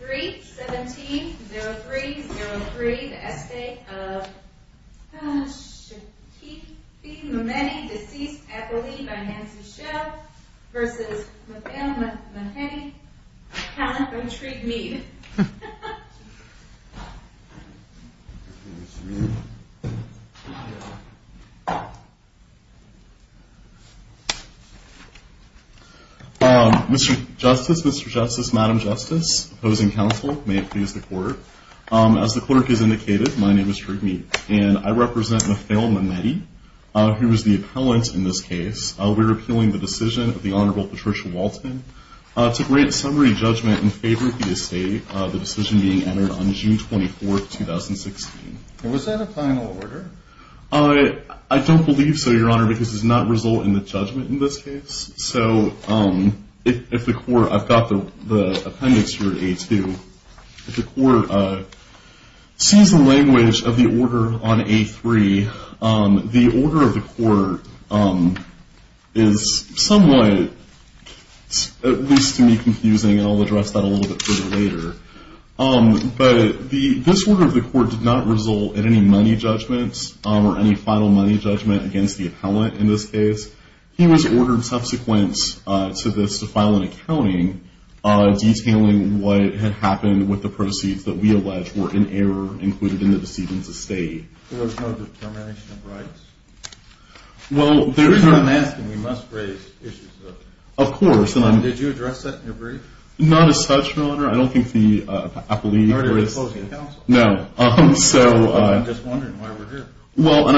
3-17-03-03 The Estate of Shaqifi Mehmedi, deceased, affiliated by Nancy Shell, v. Mehmedi, account of intrigued mead. Mr. Justice, Mr. Justice, Madam Justice, opposing counsel, may it please the court. As the clerk has indicated, my name is Tariq Mead, and I represent Nafail Mehmedi, who is the appellant in this case. We're appealing the decision of the Honorable Patricia Walton to grant summary judgment in favor of the estate, the decision being entered on June 24, 2016. Was that a final order? I don't believe so, Your Honor, because it does not result in the judgment in this case. So if the court, I've got the appendix here at A2. If the court sees the language of the order on A3, the order of the court is somewhat, at least to me, confusing, and I'll address that a little bit further later. But this order of the court did not result in any money judgments or any final money judgment against the appellant in this case. He was ordered subsequent to this to file an accounting detailing what had happened with the proceeds that we allege were in error included in the decision to stay. There was no determination of rights? Well, there is. I'm asking. We must raise issues, though. Of course. Did you address that in your brief? Not as such, Your Honor. I don't think the appellee… You're already closing the counsel. No. I'm just wondering why we're here. Well,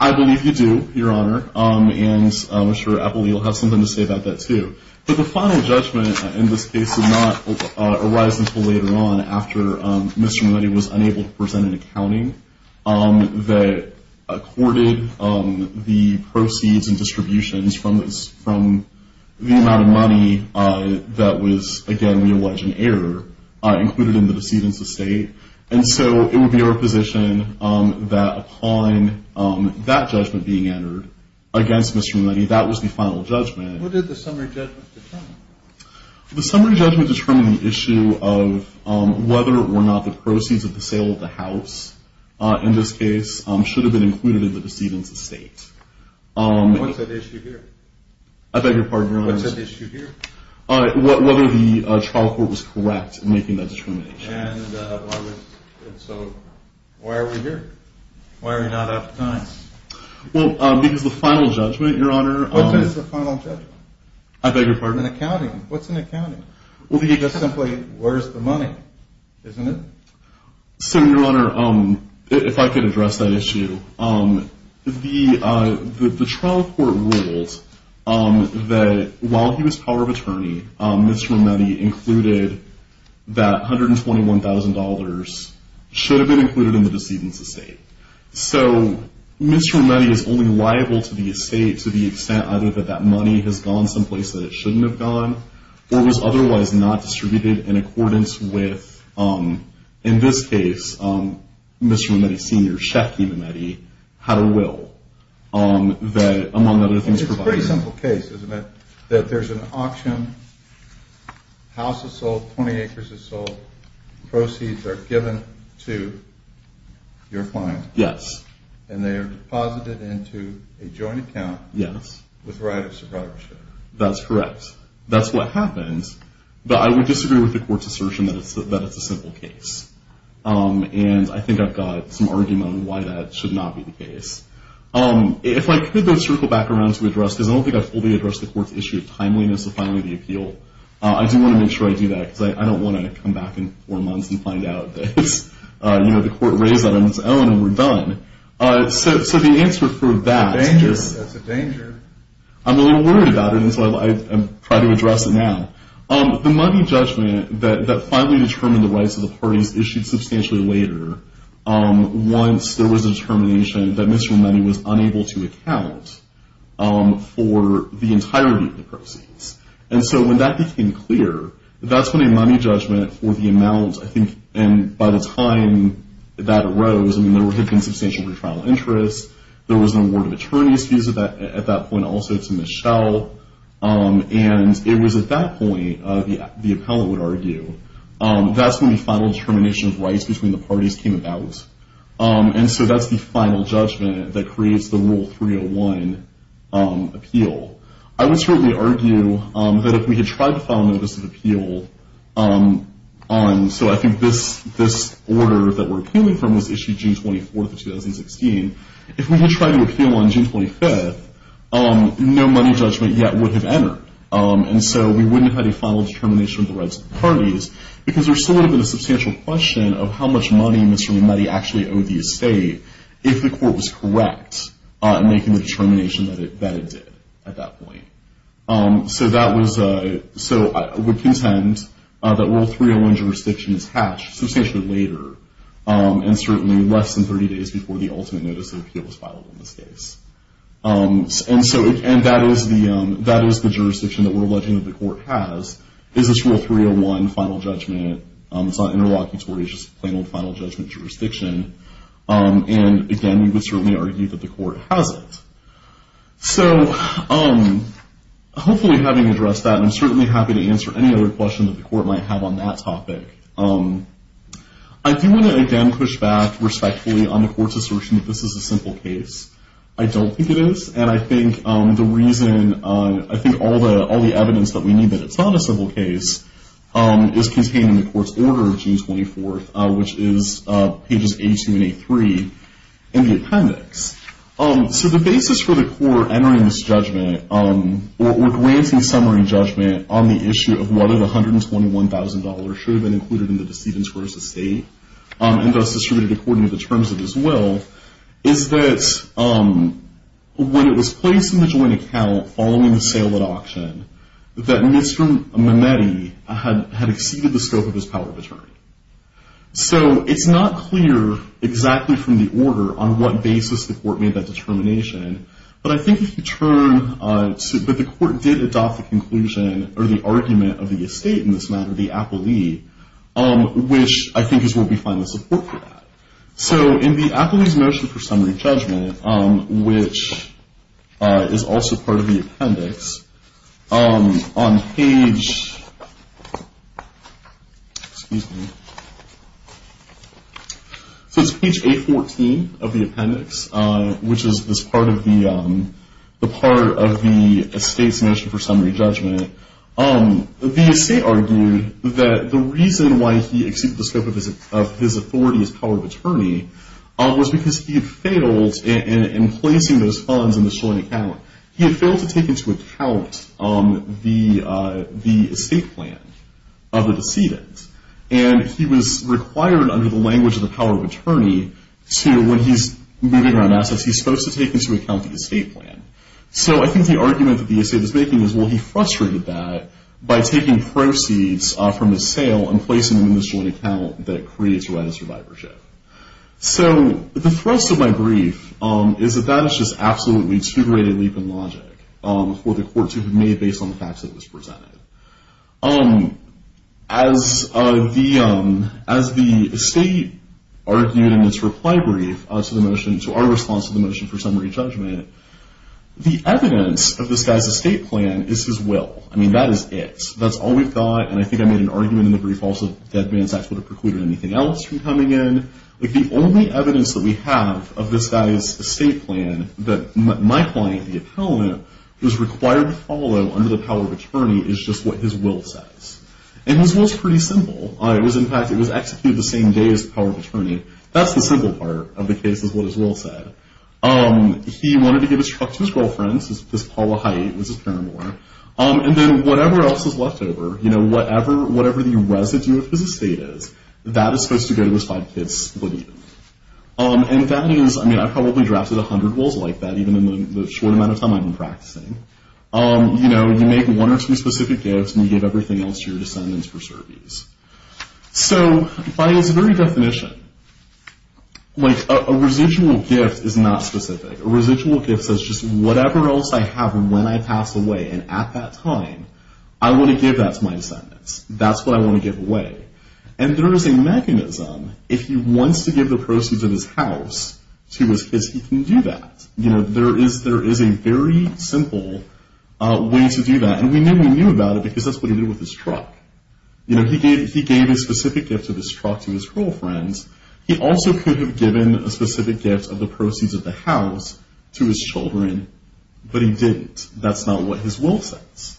I believe you do, Your Honor, and I'm sure the appellee will have something to say about that, too. But the final judgment in this case did not arise until later on after Mr. Mulaney was unable to present an accounting that accorded the proceeds and distributions from the amount of money that was, again, we allege in error included in the decision to stay. And so it would be our position that upon that judgment being entered against Mr. Mulaney, that was the final judgment. What did the summary judgment determine? The summary judgment determined the issue of whether or not the proceeds of the sale of the house in this case should have been included in the decision to stay. What's at issue here? I beg your pardon? What's at issue here? Whether the trial court was correct in making that determination. And so why are we here? Why are we not out of time? Well, because the final judgment, Your Honor… What is the final judgment? I beg your pardon? In accounting. What's in accounting? Well, you just simply, where's the money? Isn't it? So, Your Honor, if I could address that issue. The trial court ruled that while he was power of attorney, Mr. Mulaney included that $121,000 should have been included in the decision to stay. So, Mr. Mulaney is only liable to the estate to the extent either that that money has gone someplace that it shouldn't have gone or was otherwise not distributed in accordance with, in this case, Mr. Mulaney's senior, Shafki Mulaney, had a will that, among other things, provided… It's a pretty simple case, isn't it? That there's an auction, house is sold, 20 acres is sold, proceeds are given to your client. Yes. And they are deposited into a joint account. Yes. With right of survivorship. That's correct. That's what happens. But I would disagree with the court's assertion that it's a simple case. And I think I've got some argument on why that should not be the case. If I could then circle back around to address, because I don't think I've fully addressed the court's issue of timeliness of filing the appeal. I do want to make sure I do that, because I don't want to come back in four months and find out that the court raised that on its own and we're done. So, the answer for that is… That's a danger. I'm a little worried about it, and so I'll try to address it now. The money judgment that finally determined the rights of the parties issued substantially later, once there was a determination that Mr. Money was unable to account for the entirety of the proceeds. And so when that became clear, that's when a money judgment for the amount, I think, and by the time that arose, I mean, there had been substantial retrial interest. There was an award of attorney's fees at that point also to Michelle. And it was at that point, the appellant would argue, that's when the final determination of rights between the parties came about. And so that's the final judgment that creates the Rule 301 appeal. I would certainly argue that if we had tried to file a notice of appeal on… So, I think this order that we're appealing from was issued June 24th of 2016. If we had tried to appeal on June 25th, no money judgment yet would have entered. And so we wouldn't have had a final determination of the rights of the parties because there still would have been a substantial question of how much money Mr. Money actually owed the estate if the court was correct in making the determination that it did at that point. So, I would contend that Rule 301 jurisdiction is hatched substantially later and certainly less than 30 days before the ultimate notice of appeal was filed in this case. And that is the jurisdiction that we're alleging that the court has is this Rule 301 final judgment. It's not interlocutory, it's just a plain old final judgment jurisdiction. And again, we would certainly argue that the court has it. So, hopefully having addressed that, I'm certainly happy to answer any other questions that the court might have on that topic. I do want to again push back respectfully on the court's assertion that this is a simple case. I don't think it is. And I think the reason, I think all the evidence that we need that it's not a simple case is contained in the court's order of June 24th, which is pages A2 and A3 in the appendix. So, the basis for the court entering this judgment or granting summary judgment on the issue of whether the $121,000 should have been included in the decedent's first estate and thus distributed according to the terms of his will, is that when it was placed in the joint account following the sale at auction, that Mr. Mametti had exceeded the scope of his power of attorney. So, it's not clear exactly from the order on what basis the court made that determination. But I think if you turn, but the court did adopt the conclusion or the argument of the estate in this matter, the Appellee, which I think is where we find the support for that. So, in the Appellee's motion for summary judgment, which is also part of the appendix, on page, excuse me, so it's page A14 of the appendix, which is part of the estate's motion for summary judgment, the estate argued that the reason why he exceeded the scope of his authority as power of attorney was because he had failed in placing those funds in the joint account. He had failed to take into account the estate plan of the decedent. And he was required under the language of the power of attorney to, when he's moving around assets, he's supposed to take into account the estate plan. So, I think the argument that the estate is making is, well, he frustrated that by taking proceeds from his sale and placing them in this joint account that creates a right of survivorship. So, the thrust of my brief is that that is just absolutely too great a leap in logic for the court to have made based on the facts that it was presented. As the estate argued in its reply brief to our response to the motion for summary judgment, the evidence of this guy's estate plan is his will. I mean, that is it. That's all we've got. And I think I made an argument in the brief also that the advance act would have precluded anything else from coming in. The only evidence that we have of this guy's estate plan that my client, the appellant, was required to follow under the power of attorney is just what his will says. And his will is pretty simple. In fact, it was executed the same day as the power of attorney. That's the simple part of the case is what his will said. He wanted to give his truck to his girlfriend, his Paula Height, who was his parent-in-law. And then whatever else is left over, you know, whatever the residue of his estate is, that is supposed to go to his five-kid split even. And that is, I mean, I probably drafted a hundred wills like that even in the short amount of time I've been practicing. You know, you make one or two specific gifts and you give everything else to your descendants for service. So by its very definition, like a residual gift is not specific. A residual gift says just whatever else I have when I pass away and at that time, I want to give that to my descendants. That's what I want to give away. And there is a mechanism. If he wants to give the proceeds of his house to his kids, he can do that. You know, there is a very simple way to do that. And we knew we knew about it because that's what he did with his truck. You know, he gave a specific gift of his truck to his girlfriend. He also could have given a specific gift of the proceeds of the house to his children, but he didn't. That's not what his will says.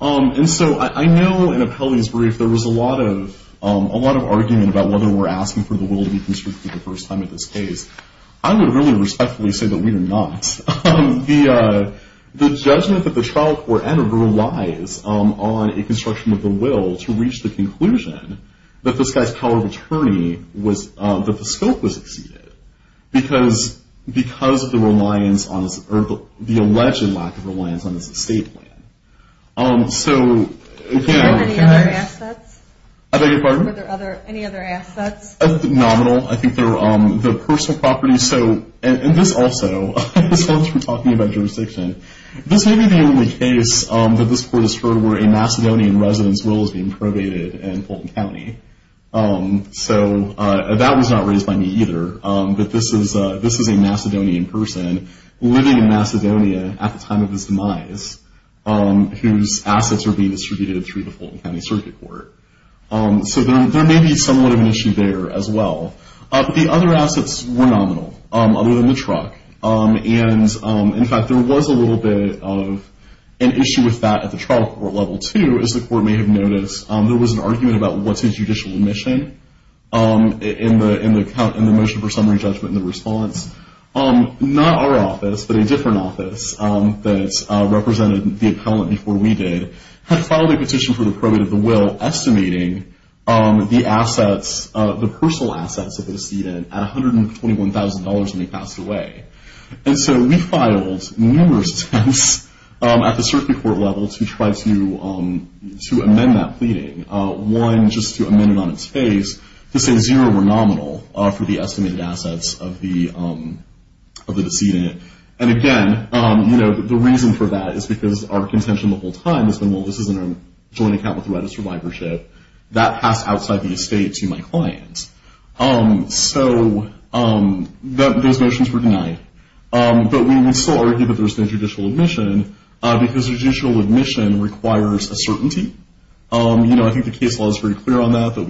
And so I know in Apelli's brief, there was a lot of argument about whether we're asking for the will to be constricted the first time in this case. I would really respectfully say that we are not. The judgment that the trial court entered relies on a construction of the will to reach the conclusion that this guy's power of attorney was that the scope was exceeded. Because of the reliance on the alleged lack of reliance on his estate plan. So, you know. Were there any other assets? I beg your pardon? Were there any other assets? Nominal, I think there were the personal properties. So, and this also, this comes from talking about jurisdiction. This may be the only case that this court has heard where a Macedonian resident's will is being probated in Fulton County. So, that was not raised by me either. But this is a Macedonian person living in Macedonia at the time of his demise, whose assets are being distributed through the Fulton County Circuit Court. So, there may be somewhat of an issue there as well. The other assets were nominal, other than the truck. And, in fact, there was a little bit of an issue with that at the trial court level too, as the court may have noticed. There was an argument about what's a judicial remission in the motion for summary judgment and the response. Not our office, but a different office that represented the appellant before we did, had filed a petition for the probate of the will estimating the assets, the personal assets that were exceeded at $121,000 when he passed away. And so, we filed numerous attempts at the circuit court level to try to amend that pleading. One, just to amend it on its face to say zero were nominal for the estimated assets of the decedent. And, again, you know, the reason for that is because our contention the whole time has been, well, this isn't a joint account with the right of survivorship. That passed outside the estate to my client. So, those motions were denied. But we still argue that there's no judicial remission because judicial remission requires a certainty. You know, I think the case law is very clear on that, that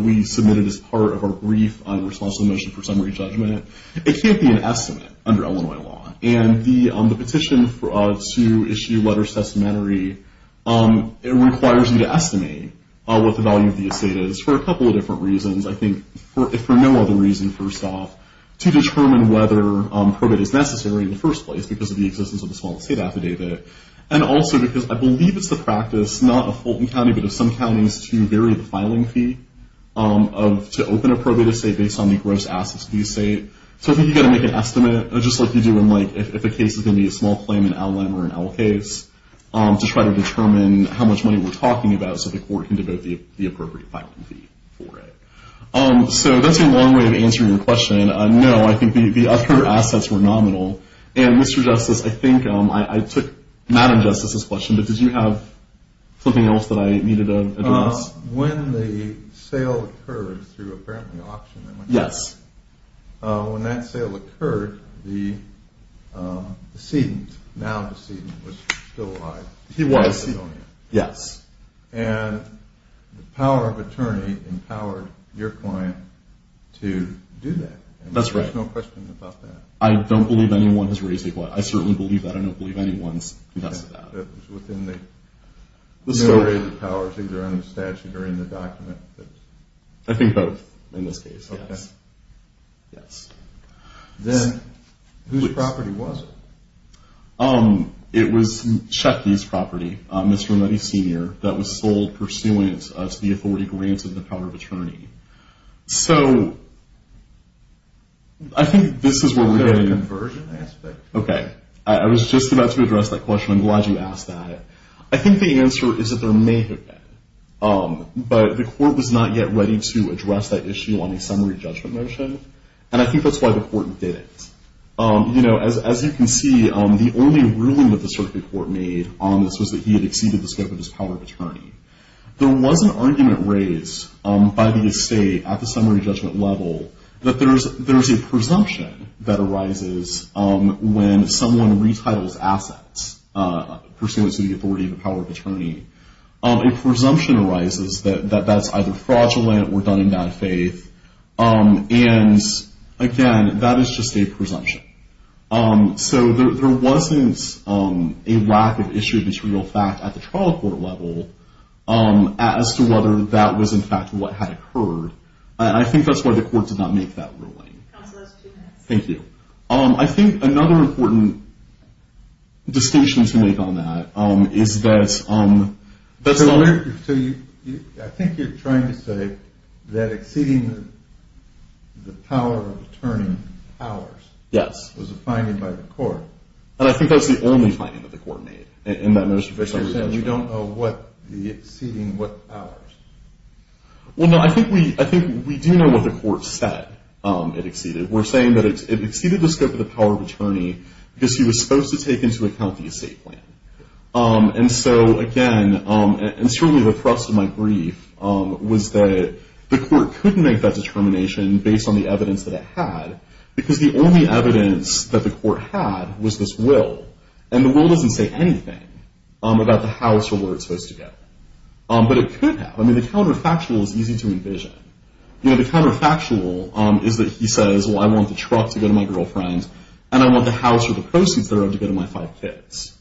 we submitted as part of our brief on the response to the motion for summary judgment. It can't be an estimate under Illinois law. And the petition to issue letters of testamentary requires you to estimate what the value of the estate is for a couple of different reasons. I think, if for no other reason, first off, to determine whether probate is necessary in the first place because of the existence of the small estate affidavit. And also because I believe it's the practice, not of Fulton County, but of some counties, to vary the filing fee to open a probate estate based on the gross assets of the estate. So, I think you've got to make an estimate, just like you do in, like, if a case is going to be a small claim, to try to determine how much money we're talking about so the court can devote the appropriate filing fee for it. So, that's a long way of answering your question. No, I think the other assets were nominal. And, Mr. Justice, I think I took Madam Justice's question, but did you have something else that I needed to address? When the sale occurred through, apparently, auction, when that sale occurred, the decedent, now decedent, was still alive. He was. Yes. And the power of attorney empowered your client to do that. That's right. There's no question about that. I don't believe anyone has raised a claim. I certainly believe that. I don't believe anyone's confessed to that. That was within the memorandum of powers, either under the statute or in the document? I think both, in this case, yes. Okay. Yes. Then, whose property was it? It was Chucky's property, Mr. Renetti Sr., that was sold pursuant to the authority granted in the power of attorney. So, I think this is where we're getting... Was there a conversion aspect? Okay. I was just about to address that question. I'm glad you asked that. I think the answer is that there may have been. But the court was not yet ready to address that issue on a summary judgment motion, and I think that's why the court didn't. You know, as you can see, the only ruling that the circuit court made on this was that he had exceeded the scope of his power of attorney. There was an argument raised by the estate at the summary judgment level that there's a presumption that arises when someone retitles assets pursuant to the authority of the power of attorney. A presumption arises that that's either fraudulent or done in bad faith. And, again, that is just a presumption. So, there wasn't a lack of issue of this real fact at the trial court level as to whether that was, in fact, what had occurred. I think that's why the court did not make that ruling. Counsel, that's two minutes. Thank you. I think another important distinction to make on that is that... I think you're trying to say that exceeding the power of attorney powers. Yes. Was a finding by the court. And I think that's the only finding that the court made in that most official... So, you're saying you don't know what the exceeding what powers. Well, no, I think we do know what the court said it exceeded. We're saying that it exceeded the scope of the power of attorney because he was supposed to take into account the estate plan. And so, again, and certainly the thrust of my brief was that the court couldn't make that determination based on the evidence that it had because the only evidence that the court had was this will. And the will doesn't say anything about the house or where it's supposed to go. But it could have. I mean, the counterfactual is easy to envision. You know, the counterfactual is that he says, well, I want the truck to go to my girlfriend, and I want the house or the proceeds that are owed to go to my five kids.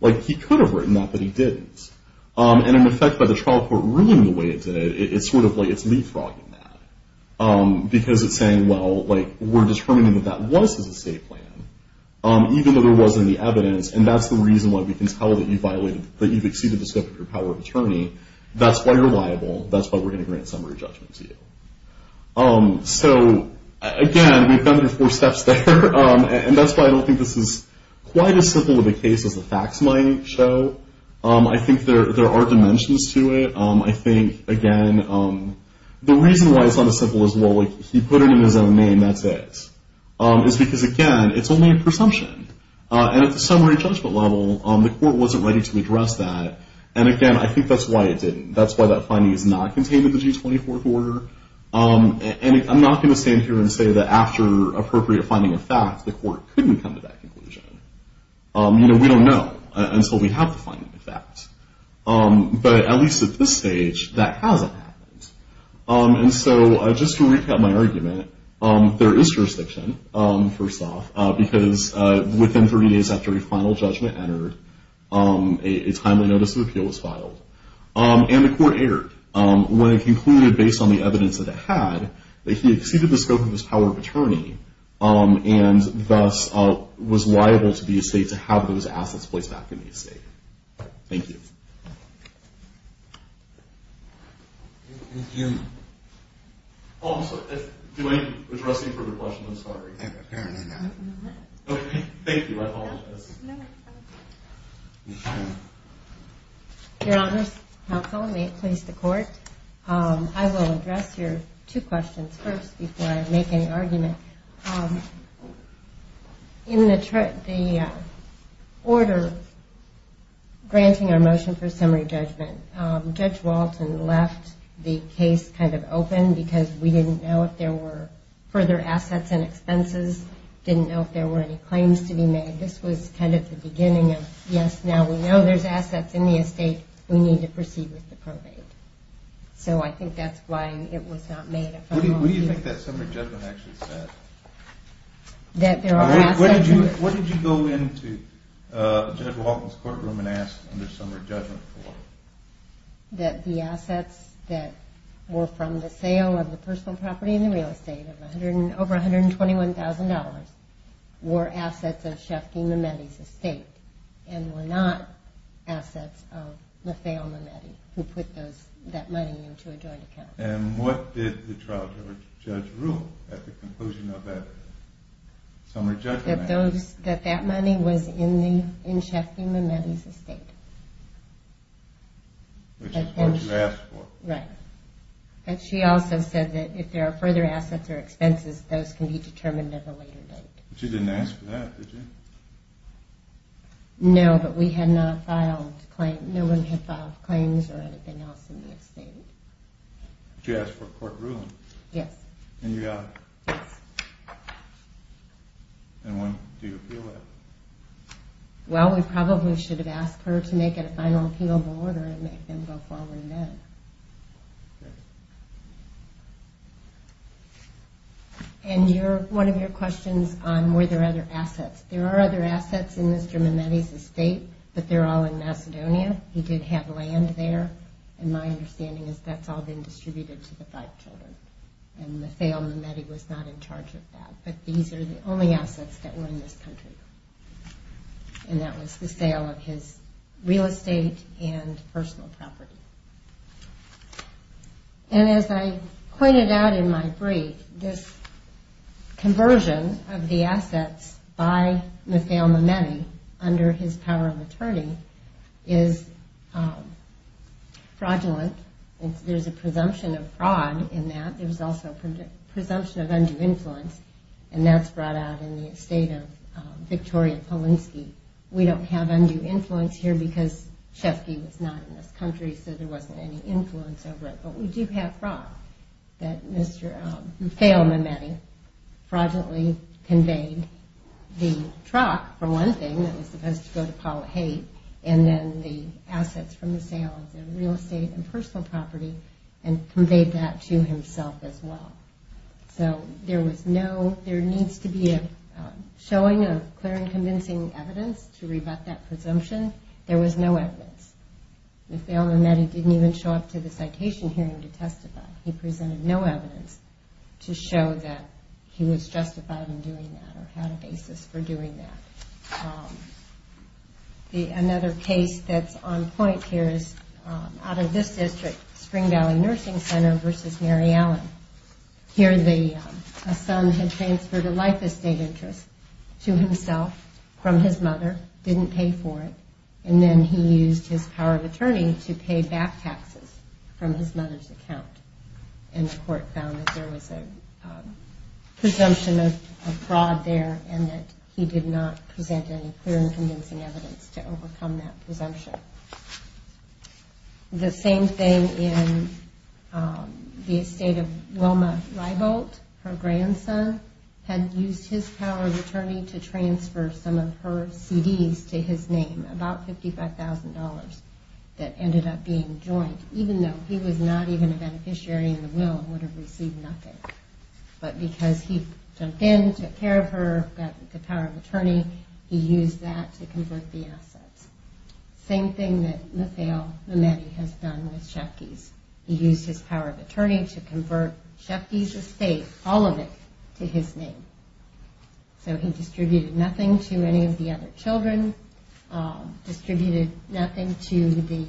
Like, he could have written that, but he didn't. And, in effect, by the trial court ruling the way it did, it's sort of like it's leapfrogging that because it's saying, well, like, we're determining that that was his estate plan, even though there wasn't any evidence, and that's the reason why we can tell that you violated, that you've exceeded the scope of your power of attorney. That's why you're liable. That's why we're going to grant summary judgment to you. So, again, we've gone through four steps there, and that's why I don't think this is quite as simple of a case as the facts might show. I think there are dimensions to it. I think, again, the reason why it's not as simple as, well, like, he put it in his own name, that's it, is because, again, it's only a presumption. And at the summary judgment level, the court wasn't ready to address that. And, again, I think that's why it didn't. That's why that finding is not contained in the G24th order. And I'm not going to stand here and say that after appropriate finding of facts, the court couldn't come to that conclusion. You know, we don't know until we have the finding of facts. But at least at this stage, that hasn't happened. And so just to recap my argument, there is jurisdiction, first off, because within 30 days after a final judgment entered, a timely notice of appeal was filed. And the court erred when it concluded, based on the evidence that it had, that he exceeded the scope of his power of attorney and thus was liable to the estate to have those assets placed back in the estate. Thank you. Oh, I'm sorry. Do I need to address any further questions? I'm sorry. Apparently not. Okay, thank you. I apologize. Your Honors, counsel, may it please the court, I will address your two questions first before I make any argument. In the order granting our motion for summary judgment, Judge Walton left the case kind of open because we didn't know if there were further assets and expenses, didn't know if there were any claims to be made. This was kind of the beginning of, yes, now we know there's assets in the estate. We need to proceed with the probate. So I think that's why it was not made a final judgment. What do you think that summary judgment actually said? That there are assets. What did you go into Judge Walton's courtroom and ask under summary judgment for? That the assets that were from the sale of the personal property and the real estate of over $121,000 were assets of Shefky Mametti's estate and were not assets of LaFeo Mametti who put that money into a joint account. And what did the trial judge rule at the conclusion of that summary judgment? That that money was in Shefky Mametti's estate. Which is what you asked for. Right. And she also said that if there are further assets or expenses, those can be determined at a later date. But you didn't ask for that, did you? No, but we had not filed a claim. No one had filed claims or anything else in the estate. But you asked for a court ruling. Yes. And you got it. Yes. And when do you appeal that? Well, we probably should have asked her to make it a final appeal of order and make them go forward then. Okay. And one of your questions on were there other assets. There are other assets in Mr. Mametti's estate, but they're all in Macedonia. He did have land there. And my understanding is that's all been distributed to the five children. And LaFeo Mametti was not in charge of that. But these are the only assets that were in this country. And that was the sale of his real estate and personal property. And as I pointed out in my brief, this conversion of the assets by LaFeo Mametti under his power of attorney is fraudulent. There's a presumption of fraud in that. There's also a presumption of undue influence. And that's brought out in the estate of Victoria Polinsky. We don't have undue influence here because Chesky was not in this country, so there wasn't any influence over it. But we do have fraud that Mr. LaFeo Mametti fraudulently conveyed the truck, for one thing, that was supposed to go to Paula Haight, and then the assets from the sale of the real estate and personal property and conveyed that to himself as well. So there needs to be a showing of clear and convincing evidence to rebut that presumption. There was no evidence. LaFeo Mametti didn't even show up to the citation hearing to testify. He presented no evidence to show that he was justified in doing that or had a basis for doing that. Another case that's on point here is out of this district, Spring Valley Nursing Center v. Mary Allen. Here a son had transferred a life estate interest to himself from his mother, didn't pay for it, and then he used his power of attorney to pay back taxes from his mother's account. And the court found that there was a presumption of fraud there and that he did not present any clear and convincing evidence to overcome that presumption. The same thing in the estate of Wilma Rieboldt. Her grandson had used his power of attorney to transfer some of her CDs to his name, about $55,000, that ended up being joint, even though he was not even a beneficiary in the will and would have received nothing. But because he jumped in, took care of her, got the power of attorney, he used that to convert the assets. Same thing that LaFeo Mametti has done with Schepke's. He used his power of attorney to convert Schepke's estate, all of it, to his name. So he distributed nothing to any of the other children, distributed nothing to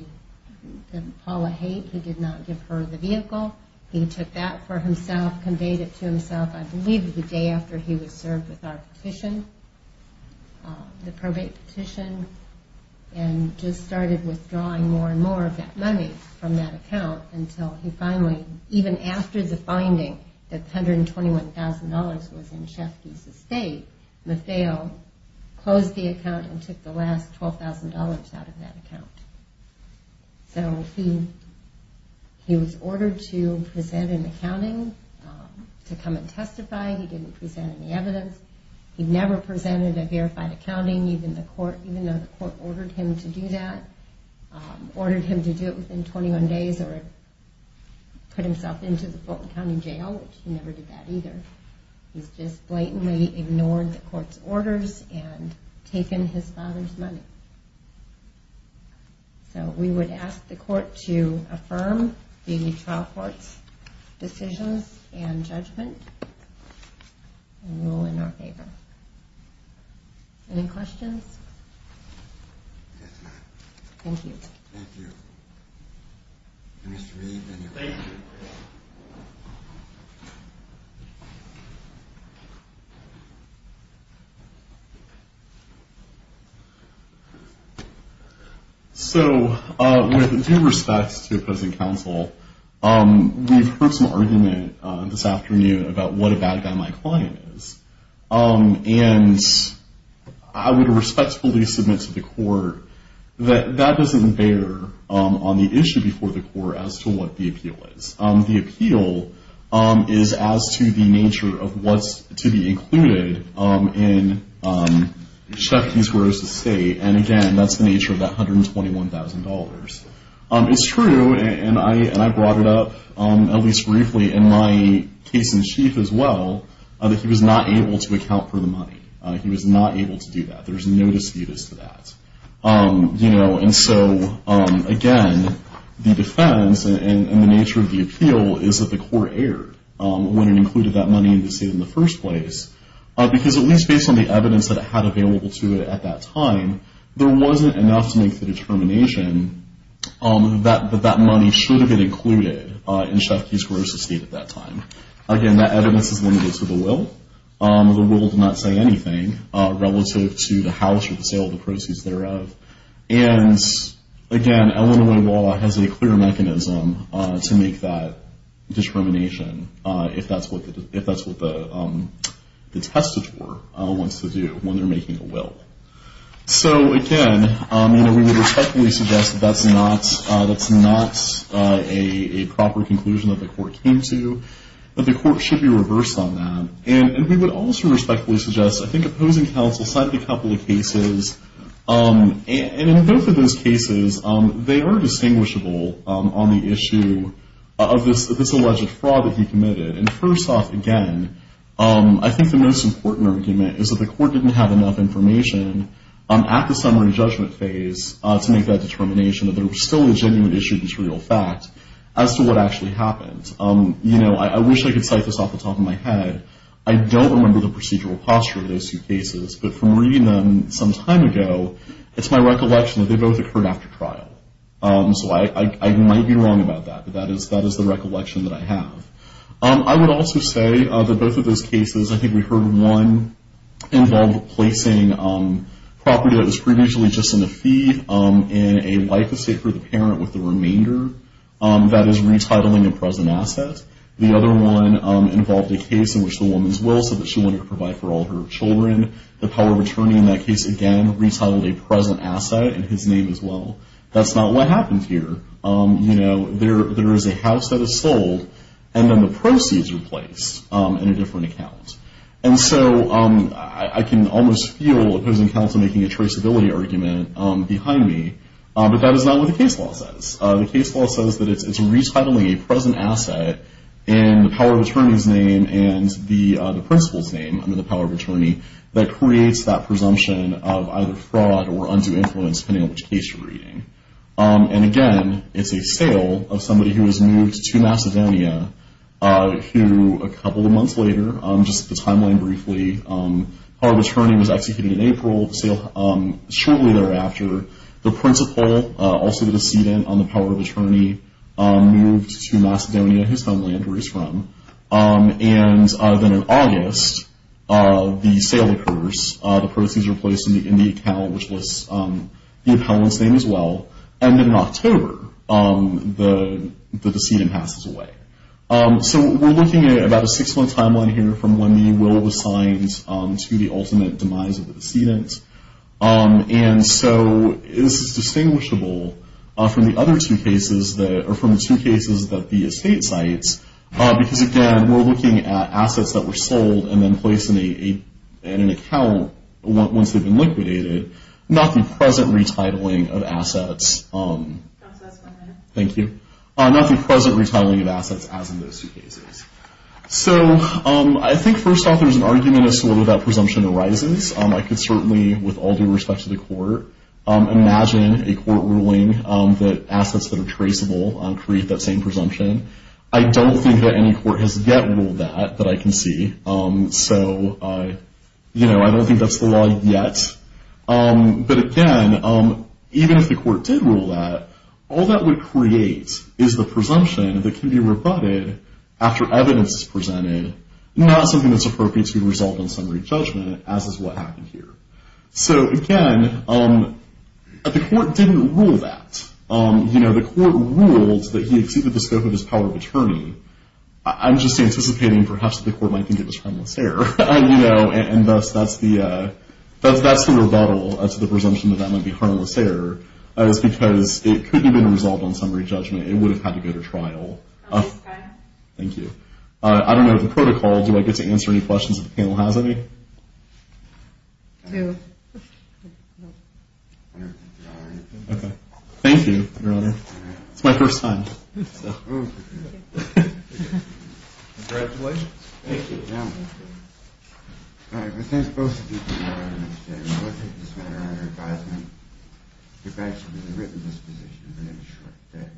Paula Haight, who did not give her the vehicle. He took that for himself, conveyed it to himself, I believe the day after he was served with our petition, the probate petition, and just started withdrawing more and more of that money from that account until he finally, even after the finding that $121,000 was in Schepke's estate, LaFeo closed the account and took the last $12,000 out of that account. So he was ordered to present an accounting to come and testify. He didn't present any evidence. He never presented a verified accounting, even though the court ordered him to do that, ordered him to do it within 21 days or put himself into the Fulton County Jail, which he never did that either. He's just blatantly ignored the court's orders and taken his father's money. So we would ask the court to affirm the trial court's decisions and judgment and rule in our favor. Any questions? Yes, ma'am. Thank you. Thank you. Mr. Reed, any questions? Thank you. So with due respect to opposing counsel, we've heard some argument this afternoon about what a bad guy my client is. And I would respectfully submit to the court that that doesn't bear on the issue before the court as to what the appeal is. The appeal is as to the nature of what's to be included in Schepke's Gross Estate. And again, that's the nature of that $121,000. It's true, and I brought it up at least briefly in my case in chief as well, that he was not able to account for the money. He was not able to do that. There's no disputes to that. And so, again, the defense and the nature of the appeal is that the court erred when it included that money in the state in the first place. Because at least based on the evidence that it had available to it at that time, there wasn't enough to make the determination that that money should have been included in Schepke's Gross Estate at that time. Again, that evidence is limited to the will. The will did not say anything relative to the house or the sale of the proceeds thereof. And again, Illinois law has a clear mechanism to make that discrimination, if that's what the testator wants to do when they're making a will. So, again, we would respectfully suggest that that's not a proper conclusion that the court came to, that the court should be reversed on that. And we would also respectfully suggest, I think, opposing counsel cited a couple of cases. And in both of those cases, they are distinguishable on the issue of this alleged fraud that he committed. And first off, again, I think the most important argument is that the court didn't have enough information at the summary judgment phase to make that determination that there was still a genuine issue, this real fact, as to what actually happened. You know, I wish I could cite this off the top of my head. I don't remember the procedural posture of those two cases. But from reading them some time ago, it's my recollection that they both occurred after trial. So I might be wrong about that, but that is the recollection that I have. I would also say that both of those cases, I think we heard one involve placing property that was previously just in the feed in a life estate for the parent with the remainder that is retitling a present asset. The other one involved a case in which the woman's will said that she wanted to provide for all her children. The power of attorney in that case, again, retitled a present asset in his name as well. That's not what happened here. You know, there is a house that is sold, and then the proceeds are placed in a different account. And so I can almost feel opposing counsel making a traceability argument behind me, but that is not what the case law says. The case law says that it's retitling a present asset in the power of attorney's name and the principal's name, under the power of attorney, that creates that presumption of either fraud or undue influence, depending on which case you're reading. And again, it's a sale of somebody who has moved to Macedonia, who a couple of months later, just the timeline briefly, power of attorney was executed in April. Shortly thereafter, the principal, also the decedent on the power of attorney, moved to Macedonia, his homeland, where he's from. And then in August, the sale occurs. The proceeds are placed in the account, which lists the appellant's name as well. And then in October, the decedent passes away. So we're looking at about a six-month timeline here from when the will was signed to the ultimate demise of the decedent. And so this is distinguishable from the other two cases, or from the two cases that the estate cites, because, again, we're looking at assets that were sold and then placed in an account once they've been liquidated, not the present retitling of assets as in those two cases. So I think, first off, there's an argument as to whether that presumption arises. I could certainly, with all due respect to the court, imagine a court ruling that assets that are traceable create that same presumption. I don't think that any court has yet ruled that, that I can see. So, you know, I don't think that's the law yet. But, again, even if the court did rule that, all that would create is the presumption that can be rebutted after evidence is presented, not something that's appropriate to result in summary judgment, as is what happened here. So, again, the court didn't rule that. You know, the court ruled that he exceeded the scope of his power of attorney. I'm just anticipating perhaps the court might think it was harmless error, you know, and thus that's the rebuttal as to the presumption that that might be harmless error. That is because it could have been resolved on summary judgment. It would have had to go to trial. Thank you. I don't know if the protocol, do I get to answer any questions if the panel has any? No. Okay. Thank you, Your Honor. It's my first time. Congratulations. Thank you. Thank you. All right. Well, thanks both of you for coming out on this day. I would like to take this matter under advisement. If I had actually written this position, it would have been a short day.